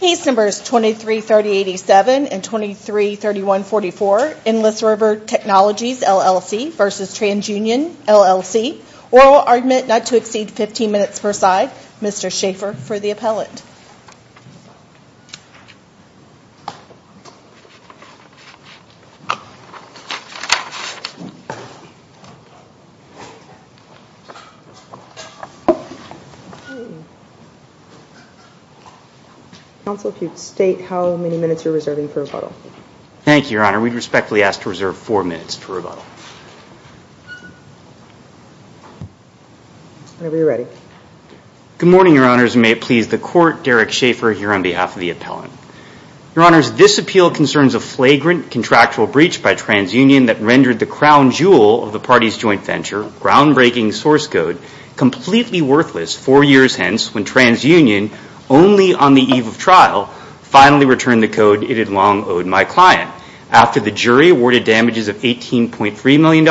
Case Numbers 23-3087 and 23-3144, Endless River Technologies LLC v. Trans Union LLC Oral argument not to exceed 15 minutes per side. Mr. Schaffer for the appellant. Counsel, if you'd state how many minutes you're reserving for rebuttal. Thank you, Your Honor. We'd respectfully ask to reserve four minutes for rebuttal. Whenever you're ready. Good morning, Your Honors, and may it please the Court, Derek Schaffer here on behalf of the appellant. Your Honors, this appeal concerns a flagrant contractual breach by Trans Union that rendered the crown jewel of the party's joint venture, or groundbreaking source code, completely worthless four years hence when Trans Union, only on the eve of trial, finally returned the code it had long owed my client. After the jury awarded damages of $18.3 million,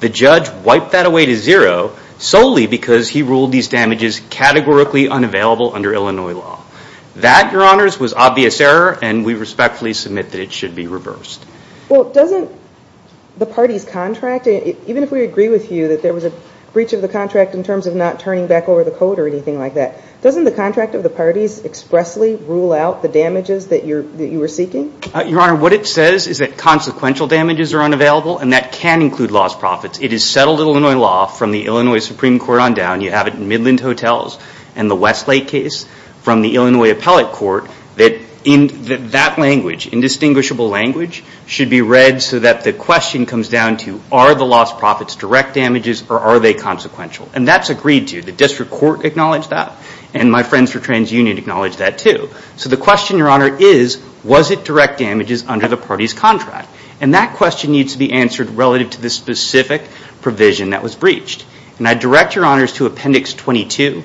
the judge wiped that away to zero solely because he ruled these damages categorically unavailable under Illinois law. That, Your Honors, was obvious error, and we respectfully submit that it should be reversed. Well, doesn't the party's contract, even if we agree with you that there was a breach of the contract in terms of not turning back over the code or anything like that, doesn't the contract of the parties expressly rule out the damages that you were seeking? Your Honor, what it says is that consequential damages are unavailable, and that can include lost profits. It is settled Illinois law from the Illinois Supreme Court on down. You have it in Midland Hotels and the Westlake case from the Illinois appellate court that that language, indistinguishable language, should be read so that the question comes down to are the lost profits direct damages or are they consequential? And that's agreed to. The district court acknowledged that, and my friends for Trans Union acknowledge that too. So the question, Your Honor, is was it direct damages under the party's contract? And that question needs to be answered relative to the specific provision that was breached. And I direct Your Honors to Appendix 22,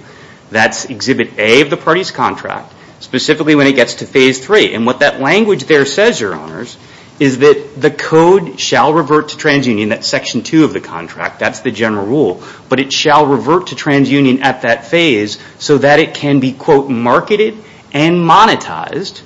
that's Exhibit A of the party's contract, specifically when it gets to Phase 3. And what that language there says, Your Honors, is that the code shall revert to Trans Union, that's Section 2 of the contract, that's the general rule, but it shall revert to Trans Union at that phase so that it can be, quote, marketed and monetized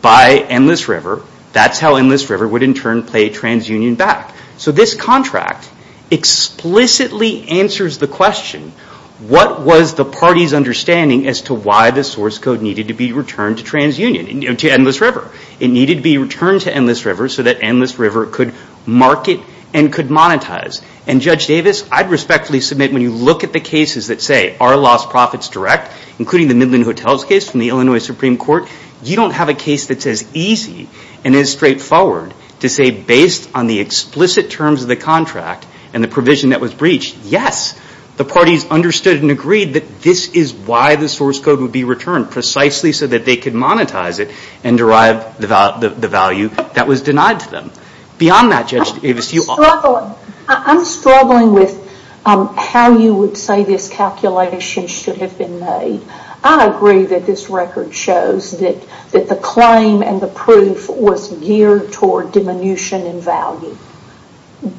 by Endless River. That's how Endless River would in turn pay Trans Union back. So this contract explicitly answers the question, what was the party's understanding as to why the source code needed to be returned to Trans Union, to Endless River? It needed to be returned to Endless River so that Endless River could market and could monetize. And Judge Davis, I'd respectfully submit when you look at the cases that say, are lost profits direct, including the Midland Hotels case from the Illinois Supreme Court, you don't have a case that's as easy and as straightforward to say, based on the explicit terms of the contract and the provision that was breached, yes, the parties understood and agreed that this is why the source code would be returned, precisely so that they could monetize it and derive the value that was denied to them. Beyond that, Judge Davis, do you... I'm struggling. I'm struggling with how you would say this calculation should have been made. I agree that this record shows that the claim and the proof was geared toward diminution in value.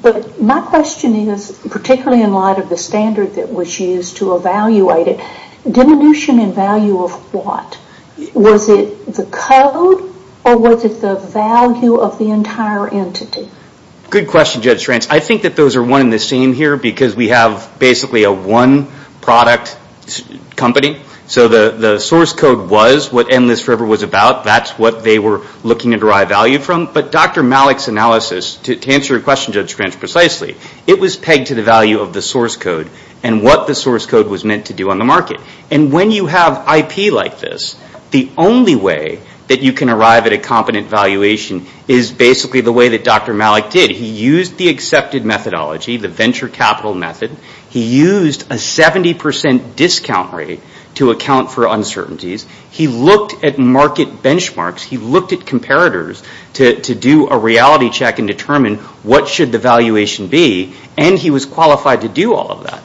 But my question is, particularly in light of the standard that was used to evaluate it, diminution in value of what? Was it the code or was it the value of the entire entity? Good question, Judge France. I think that those are one and the same here because we have basically a one product company. So the source code was what Endless River was about. That's what they were looking to derive value from. But Dr. Malik's analysis, to answer your question, Judge France, precisely, it was pegged to the value of the source code and what the source code was meant to do on the market. And when you have IP like this, the only way that you can arrive at a competent valuation is basically the way that Dr. Malik did. He used the accepted methodology, the venture capital method. He used a 70 percent discount rate to account for uncertainties. He looked at market benchmarks. He looked at comparators to do a reality check and determine what should the valuation be. And he was qualified to do all of that.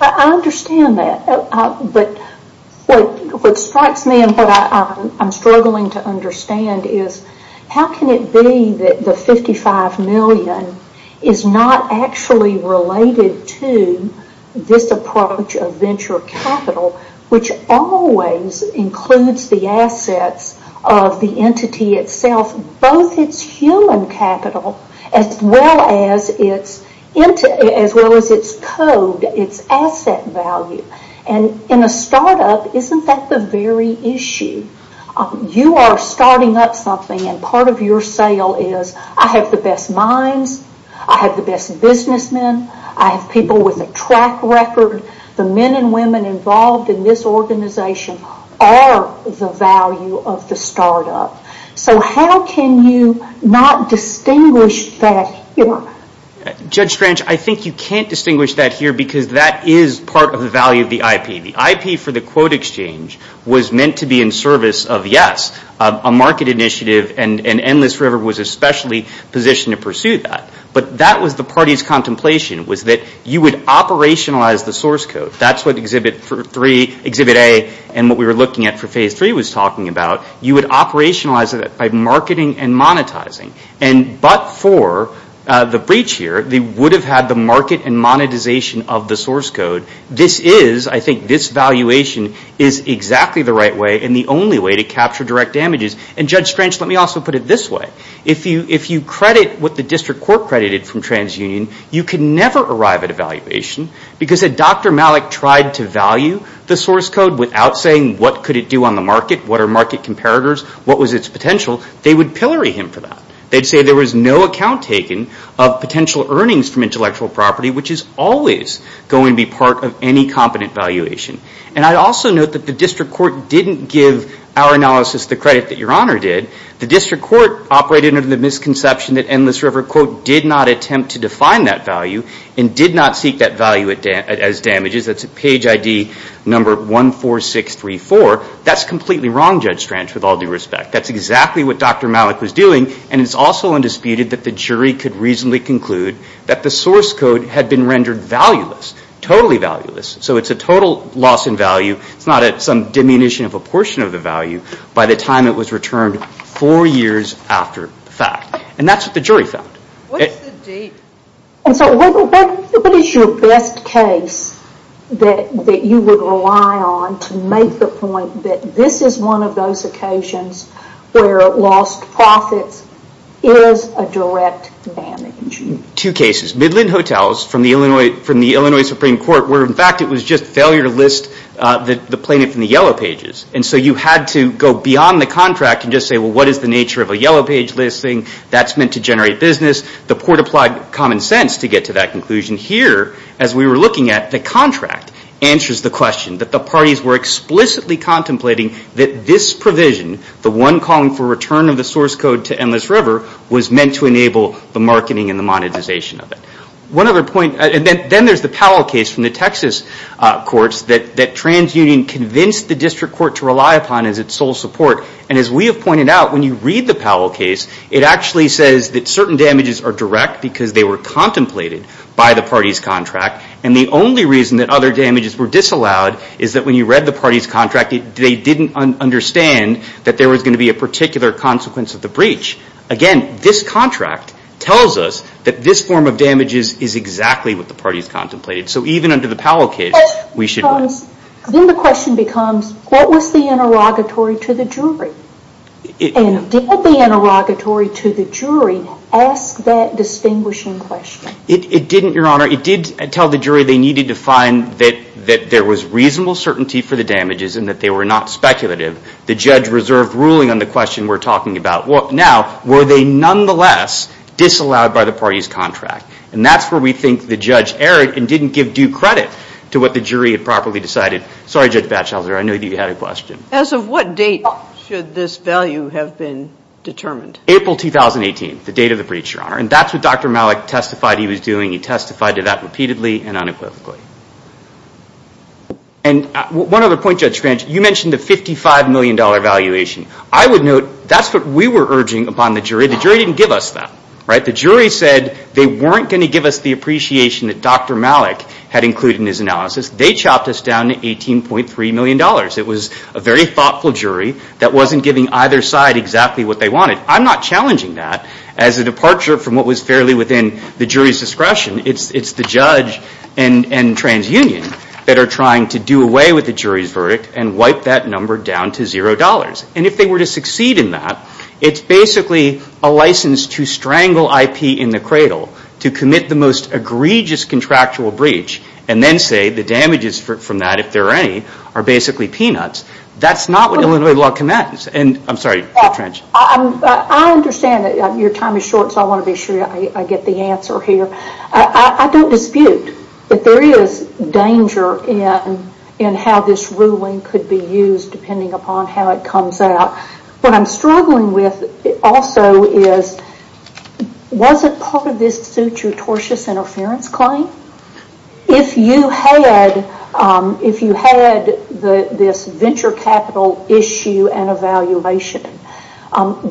I understand that. But what strikes me and what I'm struggling to understand is how can it be that the $55 million is not actually related to this approach of venture capital, which always includes the assets of the entity itself, both its human capital as well as its code, its asset value. And in a startup, isn't that the very issue? You are starting up something and part of your sale is, I have the best minds, I have the best businessmen, I have people with a track record. The men and women involved in this organization are the value of the startup. So how can you not distinguish that here? Judge Strange, I think you can't distinguish that here because that is part of the value of the IP. The IP for the quote exchange was meant to be in service of, yes, a market initiative and Endless River was especially positioned to pursue that. But that was the party's contemplation was that you would operationalize the source code. That's what Exhibit A and what we were looking at for Phase 3 was talking about. You would operationalize it by marketing and monetizing. But for the breach here, they would have had the market and monetization of the source code. This is, I think, this valuation is exactly the right way and the only way to capture direct damages. And Judge Strange, let me also put it this way. If you credit what the District Court credited from TransUnion, you can never arrive at a valuation because if Dr. Malik tried to value the source code without saying what could it do on the market, what are market comparators, what was its potential, they would pillory him for that. They'd say there was no account taken of potential earnings from intellectual property which is always going to be part of any competent valuation. And I'd also note that the District Court didn't give our analysis the credit that Your Honor did. The District Court operated under the misconception that Endless River, quote, did not attempt to define that value and did not seek that value as damages. That's at page ID number 14634. That's completely wrong, Judge Strange, with all due respect. That's exactly what Dr. Malik was doing and it's also undisputed that the jury could reasonably conclude that the source code had been rendered valueless, totally valueless. So it's a total loss in value. It's not some diminution of a portion of the value. By the time it was returned, four years after the fact. And that's what the jury found. What is your best case that you would rely on to make the point that this is one of those occasions where lost profits is a direct damage? Two cases. Midland Hotels from the Illinois Supreme Court where, in fact, it was just failure to list the plaintiff in the yellow pages. And so you had to go beyond the contract and just say, well, what is the nature of a yellow page listing? That's meant to generate business. The court applied common sense to get to that conclusion. Here, as we were looking at, the contract answers the question that the parties were explicitly contemplating that this provision, the one calling for return of the source code to Endless River, was meant to enable the marketing and the monetization of it. One other point, and then there's the Powell case from the Texas courts that TransUnion convinced the district court to rely upon as its sole support. And as we have pointed out, when you read the Powell case, it actually says that certain damages are direct because they were contemplated by the parties' contract. And the only reason that other damages were disallowed is that when you read the parties' contract, they didn't understand that there was going to be a particular consequence of the breach. Again, this contract tells us that this form of damages is exactly what the parties contemplated. So even under the Powell case, we should... Then the question becomes, what was the interrogatory to the jury? And did the interrogatory to the jury ask that distinguishing question? It didn't, Your Honor. It did tell the jury they needed to find that there was reasonable certainty for the damages and that they were not speculative. The judge reserved ruling on the question we're talking about. Now, were they nonetheless disallowed by the parties' contract? And that's where we think the judge erred and didn't give due credit to what the jury had properly decided. Sorry, Judge Batchelder. I know you had a question. As of what date should this value have been determined? April 2018, the date of the breach, Your Honor. And that's what Dr. Malik testified he was doing. He testified to that repeatedly and unequivocally. And one other point, Judge French. You mentioned the $55 million valuation. I would note that's what we were urging upon the jury. The jury didn't give us that. The jury said they weren't going to give us the appreciation that Dr. Malik had included in his analysis. They chopped us down to $18.3 million. It was a very thoughtful jury that wasn't giving either side exactly what they wanted. I'm not challenging that as a departure from what was fairly within the jury's discretion. It's the judge and TransUnion that are trying to do away with the jury's verdict and wipe that number down to $0. And if they were to succeed in that, it's basically a license to strangle IP in the cradle to commit the most egregious contractual breach and then say the damages from that, if there are any, are basically peanuts. That's not what Illinois law commands. And I'm sorry, Judge French. I understand that your time is short, so I want to be sure I get the answer here. I don't dispute that there is danger in how this ruling could be used depending upon how it comes out. What I'm struggling with also is wasn't part of this suit your tortious interference claim? If you had this venture capital issue and evaluation,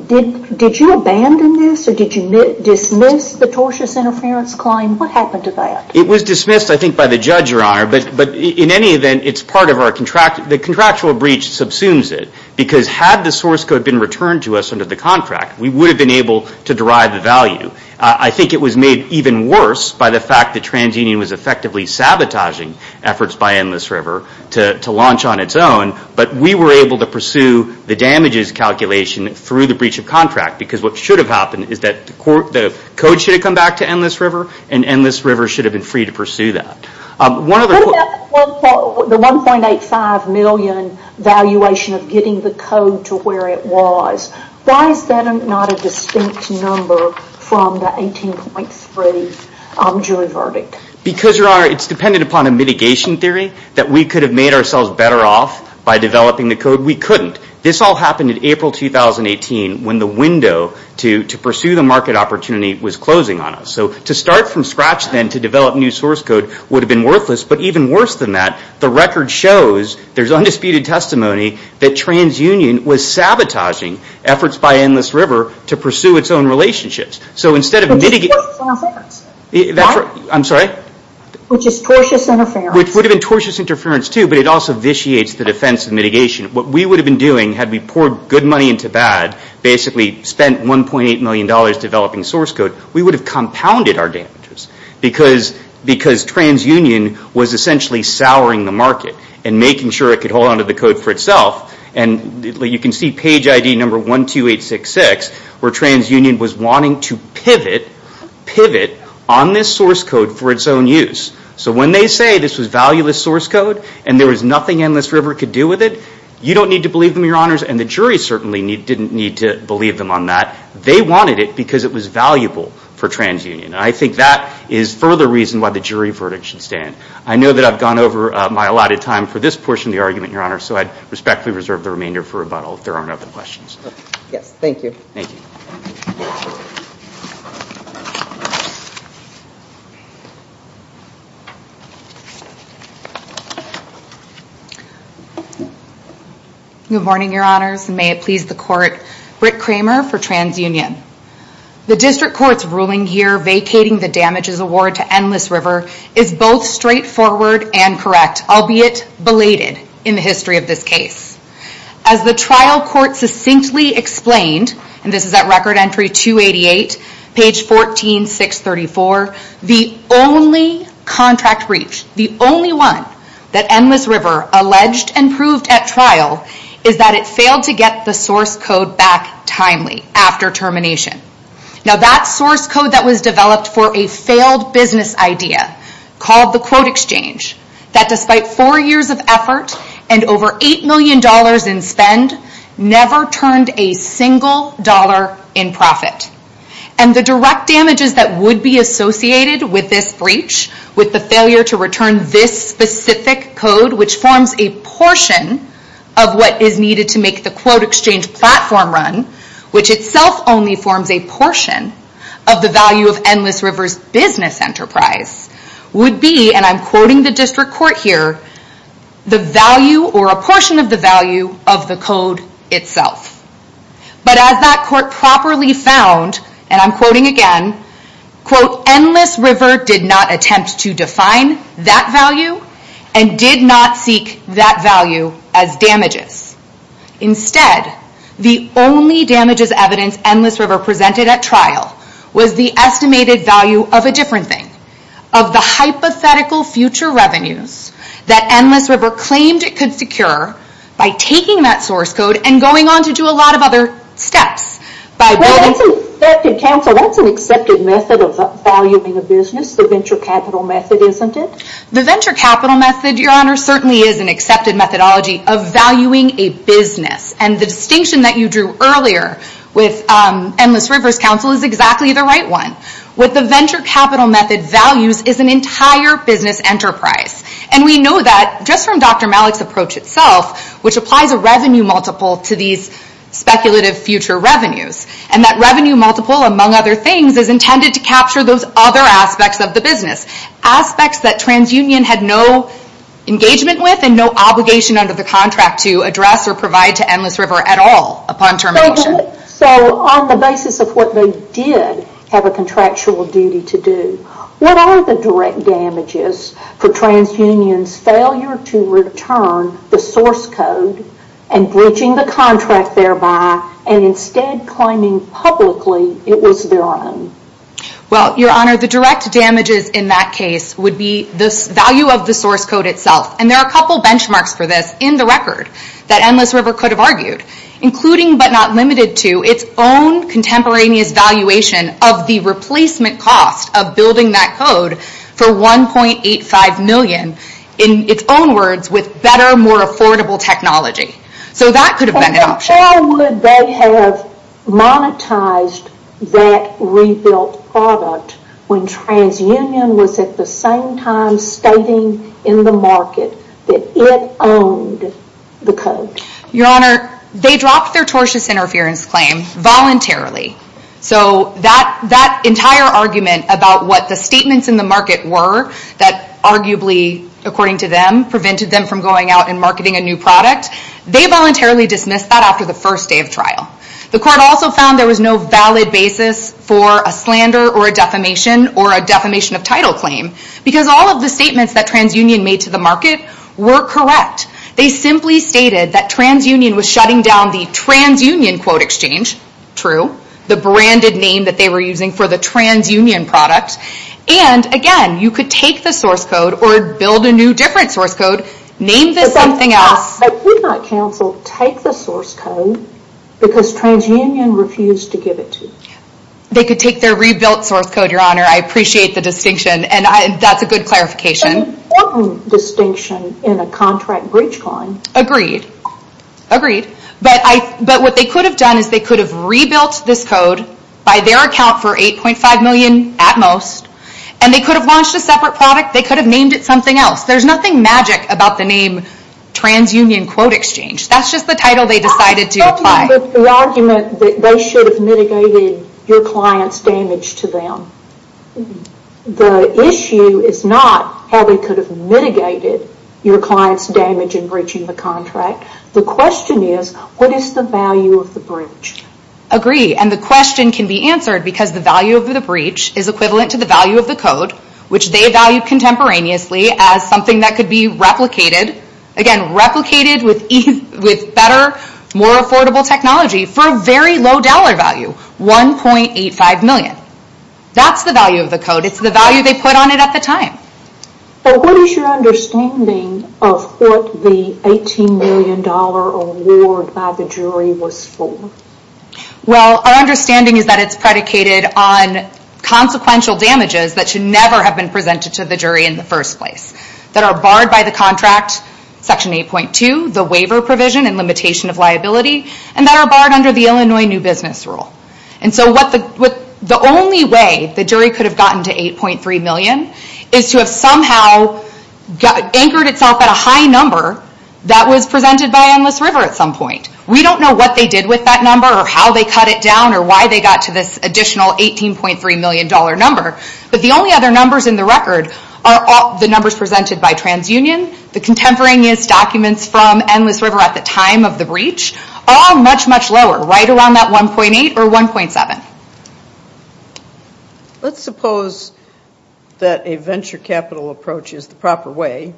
did you abandon this? Or did you dismiss the tortious interference claim? What happened to that? It was dismissed, I think, by the judge, Your Honor. But in any event, it's part of our contractual breach subsumes it. Because had the source code been returned to us under the contract, we would have been able to derive the value. I think it was made even worse by the fact that TransUnion was effectively sabotaging efforts by Endless River to launch on its own. But we were able to pursue the damages calculation through the breach of contract because what should have happened is that the code should have come back to Endless River and Endless River should have been free to pursue that. What about the $1.85 million valuation of getting the code to where it was? Why is that not a distinct number from the 18.3 jury verdict? Because, Your Honor, it's dependent upon a mitigation theory that we could have made ourselves better off by developing the code. We couldn't. This all happened in April 2018 when the window to pursue the market opportunity was closing on us. So to start from scratch then to develop new source code would have been worthless. But even worse than that, the record shows, there's undisputed testimony, that TransUnion was sabotaging efforts by Endless River to pursue its own relationships. So instead of mitigating… Which is tortuous interference. I'm sorry? Which is tortuous interference. Which would have been tortuous interference too, but it also vitiates the defense of mitigation. What we would have been doing had we poured good money into bad, basically spent $1.8 million developing source code, we would have compounded our damages because TransUnion was essentially souring the market and making sure it could hold onto the code for itself. And you can see page ID number 12866 where TransUnion was wanting to pivot on this source code for its own use. So when they say this was valueless source code and there was nothing Endless River could do with it, you don't need to believe them, Your Honors. And the jury certainly didn't need to believe them on that. They wanted it because it was valuable for TransUnion. And I think that is further reason why the jury verdict should stand. I know that I've gone over my allotted time for this portion of the argument, Your Honor, so I respectfully reserve the remainder for rebuttal if there aren't other questions. Yes, thank you. Thank you. Good morning, Your Honors, and may it please the Court. Britt Kramer for TransUnion. The District Court's ruling here vacating the damages award to Endless River is both straightforward and correct, albeit belated in the history of this case. As the trial court succinctly explained, and this is at record entry 288, page 14634, the only contract breach, the only one that Endless River alleged and proved at trial, is that it failed to get the source code back timely after termination. Now that source code that was developed for a failed business idea called the quote exchange, that despite four years of effort and over $8 million in spend, never turned a single dollar in profit. And the direct damages that would be associated with this breach, with the failure to return this specific code, which forms a portion of what is needed to make the quote exchange platform run, which itself only forms a portion of the value of Endless River's business enterprise, would be, and I'm quoting the District Court here, the value or a portion of the value of the code itself. But as that court properly found, and I'm quoting again, quote, Endless River did not attempt to define that value and did not seek that value as damages. Instead, the only damages evidence Endless River presented at trial was the estimated value of a different thing, of the hypothetical future revenues that Endless River claimed it could secure by taking that source code and going on to do a lot of other steps. Well, that's an accepted method of valuing a business, the venture capital method, isn't it? The venture capital method, Your Honor, certainly is an accepted methodology of valuing a business. And the distinction that you drew earlier with Endless River's counsel is exactly the right one. What the venture capital method values is an entire business enterprise. And we know that just from Dr. Malik's approach itself, which applies a revenue multiple to these speculative future revenues, and that revenue multiple, among other things, is intended to capture those other aspects of the business, aspects that TransUnion had no engagement with and no obligation under the contract to address or provide to Endless River at all upon termination. So on the basis of what they did have a contractual duty to do, what are the direct damages for TransUnion's failure to return the source code and breaching the contract thereby and instead claiming publicly it was their own? Well, Your Honor, the direct damages in that case would be the value of the source code itself. And there are a couple benchmarks for this in the record that Endless River could have argued, including but not limited to its own contemporaneous valuation of the replacement cost of building that code for $1.85 million, in its own words, with better, more affordable technology. So that could have been an option. So how would they have monetized that rebuilt product when TransUnion was at the same time stating in the market that it owned the code? Your Honor, they dropped their tortious interference claim voluntarily. So that entire argument about what the statements in the market were that arguably, according to them, prevented them from going out and marketing a new product, they voluntarily dismissed that after the first day of trial. The court also found there was no valid basis for a slander or a defamation or a defamation of title claim because all of the statements that TransUnion made to the market were correct. They simply stated that TransUnion was shutting down the TransUnion quote exchange. True. The branded name that they were using for the TransUnion product. And again, you could take the source code or build a new different source code. Name this something else. They could not counsel take the source code because TransUnion refused to give it to them. They could take their rebuilt source code, Your Honor. I appreciate the distinction and that's a good clarification. An important distinction in a contract breach claim. Agreed. Agreed. But what they could have done is they could have rebuilt this code by their account for 8.5 million at most and they could have launched a separate product. They could have named it something else. There's nothing magic about the name TransUnion quote exchange. That's just the title they decided to apply. I'm talking about the argument that they should have mitigated your client's damage to them. The issue is not how they could have mitigated your client's damage in breaching the contract. The question is what is the value of the breach? Agreed. And the question can be answered because the value of the breach is equivalent to the value of the code which they value contemporaneously as something that could be replicated. Again, replicated with better, more affordable technology for a very low dollar value. 1.85 million. That's the value of the code. It's the value they put on it at the time. What is your understanding of what the $18 million award by the jury was for? Well, our understanding is that it's predicated on consequential damages that should never have been presented to the jury in the first place. That are barred by the contract, section 8.2, the waiver provision and limitation of liability and that are barred under the Illinois new business rule. The only way the jury could have gotten to 8.3 million is to have somehow anchored itself at a high number that was presented by Endless River at some point. We don't know what they did with that number or how they cut it down or why they got to this additional $18.3 million number. But the only other numbers in the record are the numbers presented by TransUnion, the contemporaneous documents from Endless River at the time of the breach are much, much lower, right around that 1.8 or 1.7. Let's suppose that a venture capital approach is the proper way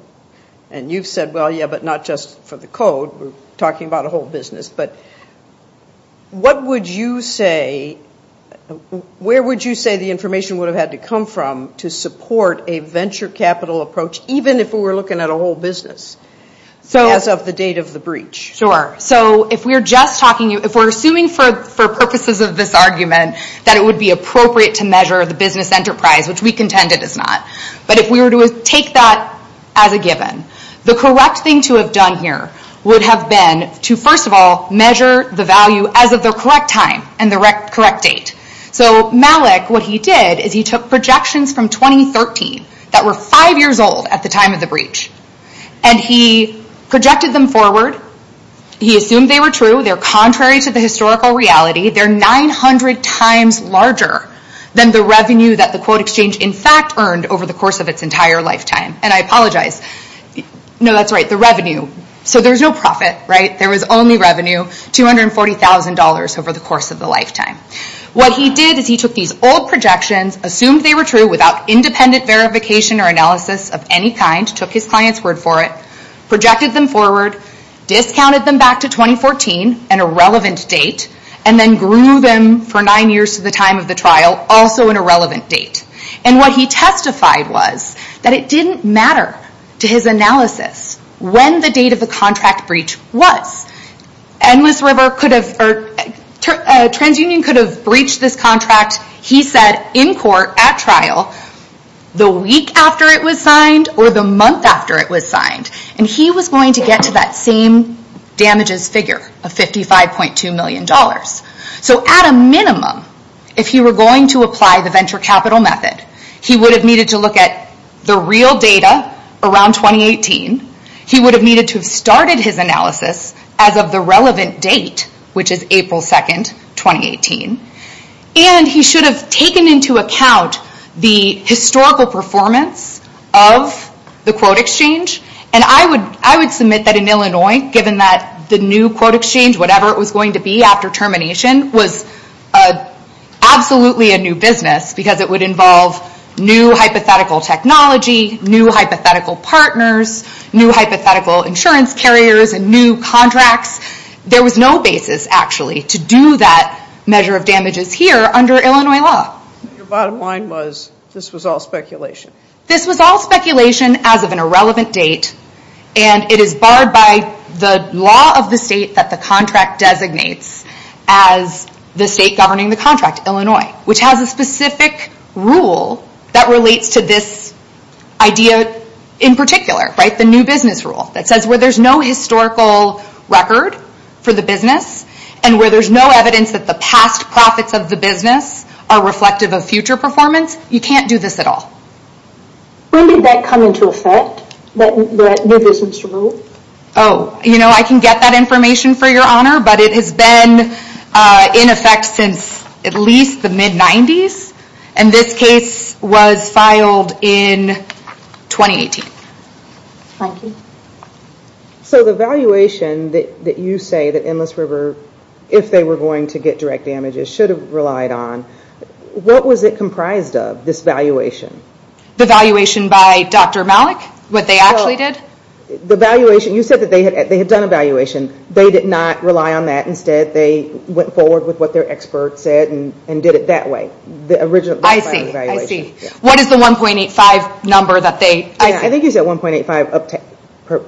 and you've said, well, yeah, but not just for the code. We're talking about a whole business. But what would you say, where would you say the information would have had to come from to support a venture capital approach even if we were looking at a whole business as of the date of the breach? If we're assuming for purposes of this argument that it would be appropriate to measure the business enterprise, which we contend it is not, but if we were to take that as a given, the correct thing to have done here would have been to, first of all, measure the value as of the correct time and the correct date. Malik, what he did is he took projections from 2013 that were five years old at the time of the breach and he projected them forward. He assumed they were true. They're contrary to the historical reality. They're 900 times larger than the revenue that the quote exchange in fact earned over the course of its entire lifetime. And I apologize. No, that's right, the revenue. So there's no profit, right? There was only revenue, $240,000 over the course of the lifetime. What he did is he took these old projections, assumed they were true without independent verification or analysis of any kind, took his client's word for it, projected them forward, discounted them back to 2014, an irrelevant date, and then grew them for nine years to the time of the trial, also an irrelevant date. And what he testified was that it didn't matter to his analysis when the date of the contract breach was. Endless River could have, or TransUnion could have breached this contract, he said, in court, at trial, the week after it was signed or the month after it was signed. And he was going to get to that same damages figure of $55.2 million. So at a minimum, if he were going to apply the venture capital method, he would have needed to look at the real data around 2018. He would have needed to have started his analysis as of the relevant date, which is April 2, 2018. And he should have taken into account the historical performance of the quote exchange. And I would submit that in Illinois, given that the new quote exchange, whatever it was going to be after termination, was absolutely a new business because it would involve new hypothetical technology, new hypothetical partners, new hypothetical insurance carriers, and new contracts. There was no basis, actually, to do that measure of damages here under Illinois law. Your bottom line was this was all speculation. This was all speculation as of an irrelevant date. And it is barred by the law of the state that the contract designates as the state governing the contract, Illinois, which has a specific rule that relates to this idea in particular. The new business rule that says where there's no historical record for the business and where there's no evidence that the past profits of the business are reflective of future performance, you can't do this at all. When did that come into effect, that new business rule? Oh, you know, I can get that information for your honor, but it has been in effect since at least the mid-90s. And this case was filed in 2018. Thank you. So the valuation that you say that Endless River, if they were going to get direct damages, should have relied on, what was it comprised of, this valuation? The valuation by Dr. Malik, what they actually did? The valuation, you said that they had done a valuation. They did not rely on that. Instead, they went forward with what their expert said and did it that way. I see, I see. What is the 1.85 number that they? I think you said 1.85 up to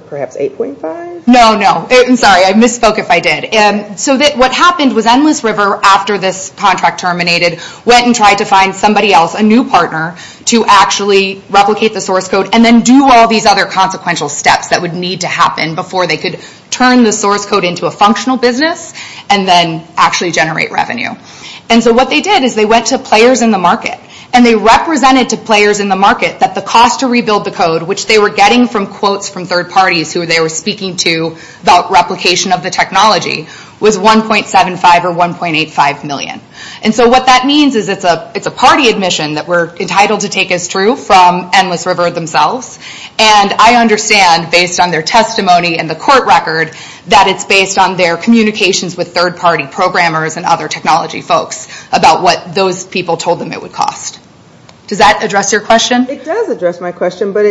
perhaps 8.5? No, no. Sorry, I misspoke if I did. So what happened was Endless River, after this contract terminated, went and tried to find somebody else, a new partner, to actually replicate the source code and then do all these other consequential steps that would need to happen before they could turn the source code into a functional business and then actually generate revenue. And so what they did is they went to players in the market, and they represented to players in the market that the cost to rebuild the code, which they were getting from quotes from third parties who they were speaking to about replication of the technology, was 1.75 or 1.85 million. And so what that means is it's a party admission that we're entitled to take as true from Endless River themselves. And I understand, based on their testimony and the court record, that it's based on their communications with third-party programmers and other technology folks about what those people told them it would cost. Does that address your question? It does address my question, but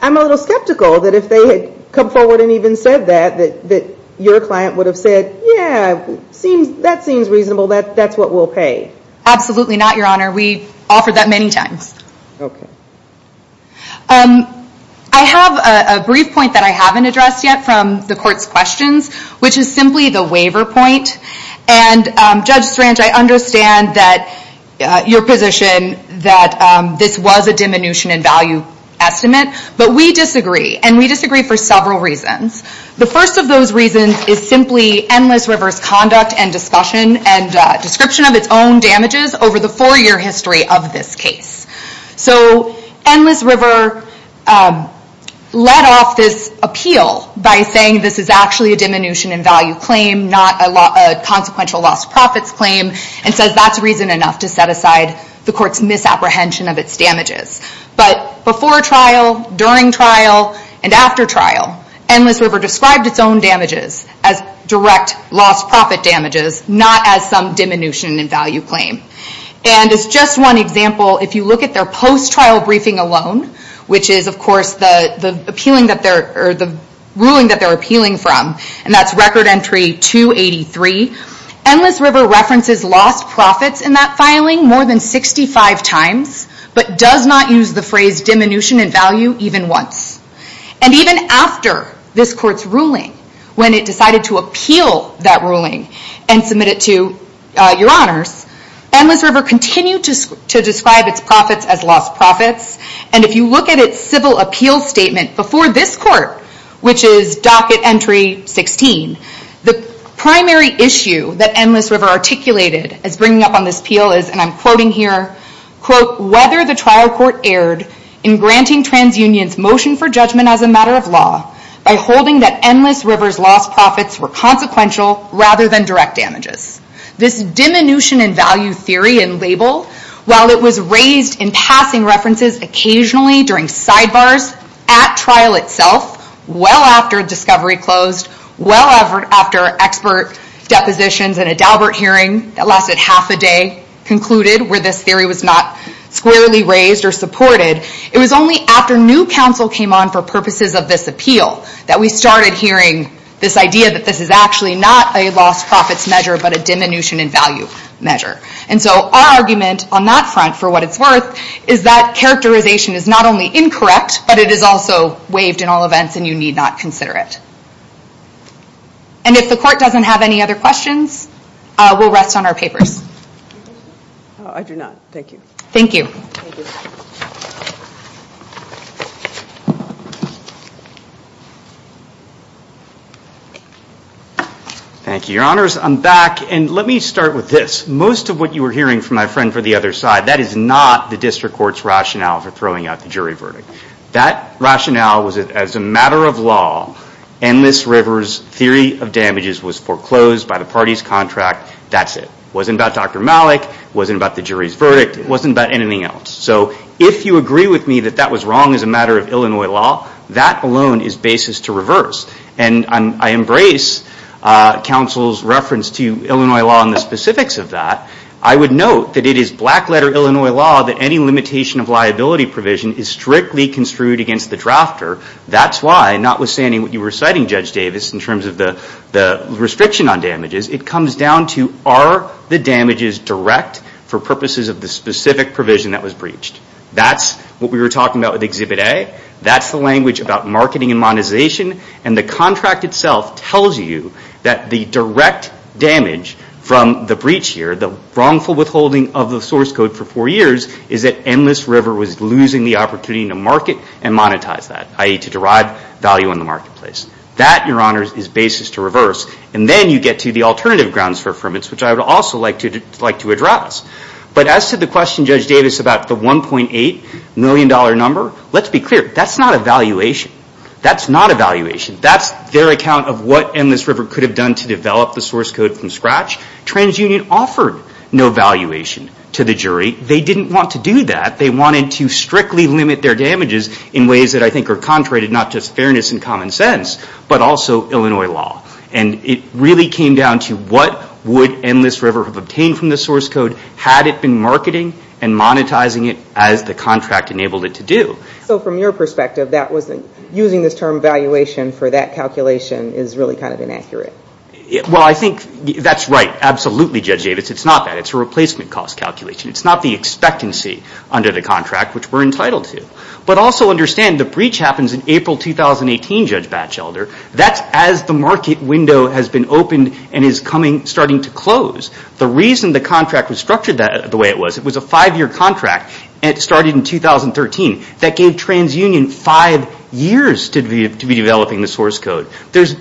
I'm a little skeptical that if they had come forward and even said that, that your client would have said, yeah, that seems reasonable, that's what we'll pay. Absolutely not, Your Honor. We've offered that many times. Okay. I have a brief point that I haven't addressed yet from the court's questions, which is simply the waiver point. And, Judge Strange, I understand your position that this was a diminution in value estimate, but we disagree, and we disagree for several reasons. The first of those reasons is simply Endless River's conduct and discussion and description of its own damages over the four-year history of this case. So Endless River led off this appeal by saying this is actually a diminution in value claim, not a consequential lost profits claim, and says that's reason enough to set aside the court's misapprehension of its damages. But before trial, during trial, and after trial, Endless River described its own damages as direct lost profit damages, not as some diminution in value claim. And as just one example, if you look at their post-trial briefing alone, which is, of course, the ruling that they're appealing from, and that's Record Entry 283, Endless River references lost profits in that filing more than 65 times, but does not use the phrase diminution in value even once. And even after this court's ruling, when it decided to appeal that ruling and submit it to your honors, Endless River continued to describe its profits as lost profits, and if you look at its civil appeal statement before this court, which is Docket Entry 16, the primary issue that Endless River articulated as bringing up on this appeal is, and I'm quoting here, whether the trial court erred in granting TransUnion's motion for judgment as a matter of law by holding that Endless River's lost profits were consequential rather than direct damages. This diminution in value theory and label, while it was raised in passing references occasionally during sidebars, at trial itself, well after discovery closed, well after expert depositions and a Daubert hearing that lasted half a day, concluded where this theory was not squarely raised or supported, it was only after new counsel came on for purposes of this appeal that we started hearing this idea that this is actually not a lost profits measure, but a diminution in value measure. And so our argument on that front for what it's worth is that characterization is not only incorrect, but it is also waived in all events and you need not consider it. And if the court doesn't have any other questions, we'll rest on our papers. I do not. Thank you. Thank you. Thank you, Your Honors. I'm back. And let me start with this. Most of what you were hearing from my friend for the other side, that is not the district court's rationale for throwing out the jury verdict. That rationale was that as a matter of law, Endless River's theory of damages was foreclosed by the party's contract. That's it. It wasn't about Dr. Malik. It wasn't about the jury's verdict. It wasn't about anything else. So if you agree with me that that was wrong as a matter of Illinois law, that alone is basis to reverse. And I embrace counsel's reference to Illinois law and the specifics of that. I would note that it is black letter Illinois law that any limitation of liability provision is strictly construed against the drafter. That's why, notwithstanding what you were citing, Judge Davis, in terms of the restriction on damages, it comes down to are the damages direct for purposes of the specific provision that was breached. That's what we were talking about with Exhibit A. That's the language about marketing and monetization. And the contract itself tells you that the direct damage from the breach here, the wrongful withholding of the source code for four years, is that Endless River was losing the opportunity to market and monetize that. I.e., to derive value in the marketplace. That, Your Honors, is basis to reverse. And then you get to the alternative grounds for affirmance, which I would also like to address. But as to the question, Judge Davis, about the $1.8 million number, let's be clear, that's not a valuation. That's not a valuation. That's their account of what Endless River could have done to develop the source code from scratch. TransUnion offered no valuation to the jury. They didn't want to do that. They wanted to strictly limit their damages in ways that I think are contrary to not just fairness and common sense, but also Illinois law. And it really came down to what would Endless River have obtained from the source code had it been marketing and monetizing it as the contract enabled it to do. So from your perspective, using this term valuation for that calculation is really kind of inaccurate. Well, I think that's right. Absolutely, Judge Davis. It's not that. It's a replacement cost calculation. It's not the expectancy under the contract, which we're entitled to. But also understand the breach happens in April 2018, Judge Batchelder. That's as the market window has been opened and is starting to close. The reason the contract was structured the way it was, it was a five-year contract, and it started in 2013. That gave TransUnion five years to be developing the source code.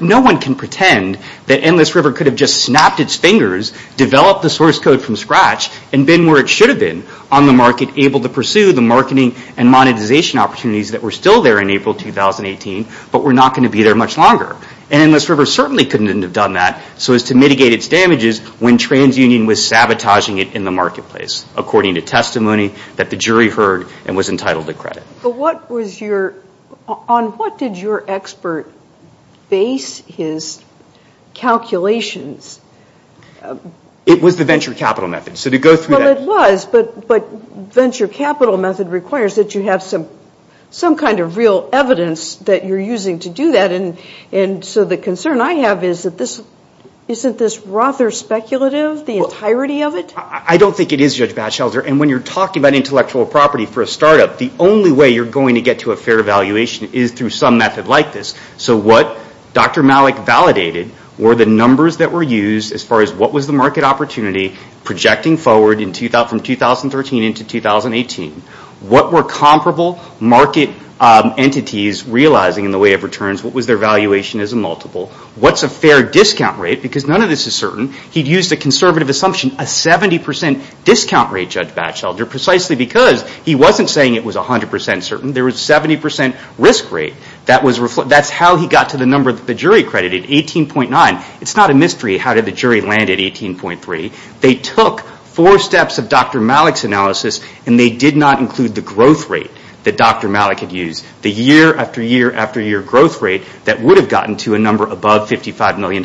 No one can pretend that Endless River could have just snapped its fingers, developed the source code from scratch, and been where it should have been on the market, able to pursue the marketing and monetization opportunities that were still there in April 2018, but were not going to be there much longer. And Endless River certainly couldn't have done that so as to mitigate its damages when TransUnion was sabotaging it in the marketplace, according to testimony that the jury heard and was entitled to credit. But what was your – on what did your expert base his calculations? It was the venture capital method, so to go through that – Well, it was, but venture capital method requires that you have some kind of real evidence that you're using to do that. And so the concern I have is that this – isn't this rather speculative, the entirety of it? I don't think it is, Judge Batchelder. And when you're talking about intellectual property for a startup, the only way you're going to get to a fair valuation is through some method like this. So what Dr. Malik validated were the numbers that were used as far as what was the market opportunity projecting forward from 2013 into 2018. What were comparable market entities realizing in the way of returns? What was their valuation as a multiple? What's a fair discount rate? Because none of this is certain. He'd used a conservative assumption, a 70% discount rate, Judge Batchelder, precisely because he wasn't saying it was 100% certain. There was a 70% risk rate. That's how he got to the number that the jury credited, 18.9. It's not a mystery how did the jury land at 18.3. They took four steps of Dr. Malik's analysis, and they did not include the growth rate that Dr. Malik had used, the year after year after year growth rate that would have gotten to a number above $55 million.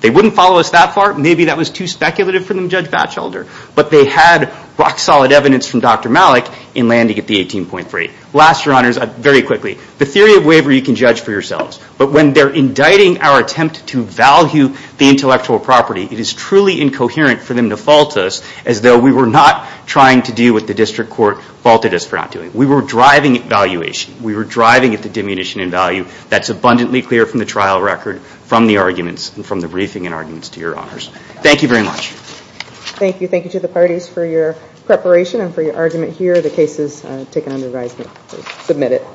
They wouldn't follow us that far. Maybe that was too speculative for them, Judge Batchelder. But they had rock-solid evidence from Dr. Malik in landing at the 18.3. Last, Your Honors, very quickly, the theory of waiver you can judge for yourselves. But when they're indicting our attempt to value the intellectual property, it is truly incoherent for them to fault us as though we were not trying to do what the district court faulted us for not doing. We were driving at valuation. We were driving at the diminution in value that's abundantly clear from the trial record, from the arguments, and from the briefing and arguments to Your Honors. Thank you very much. Thank you. Thank you to the parties for your preparation and for your argument here. The case is taken under advisement. Submit it.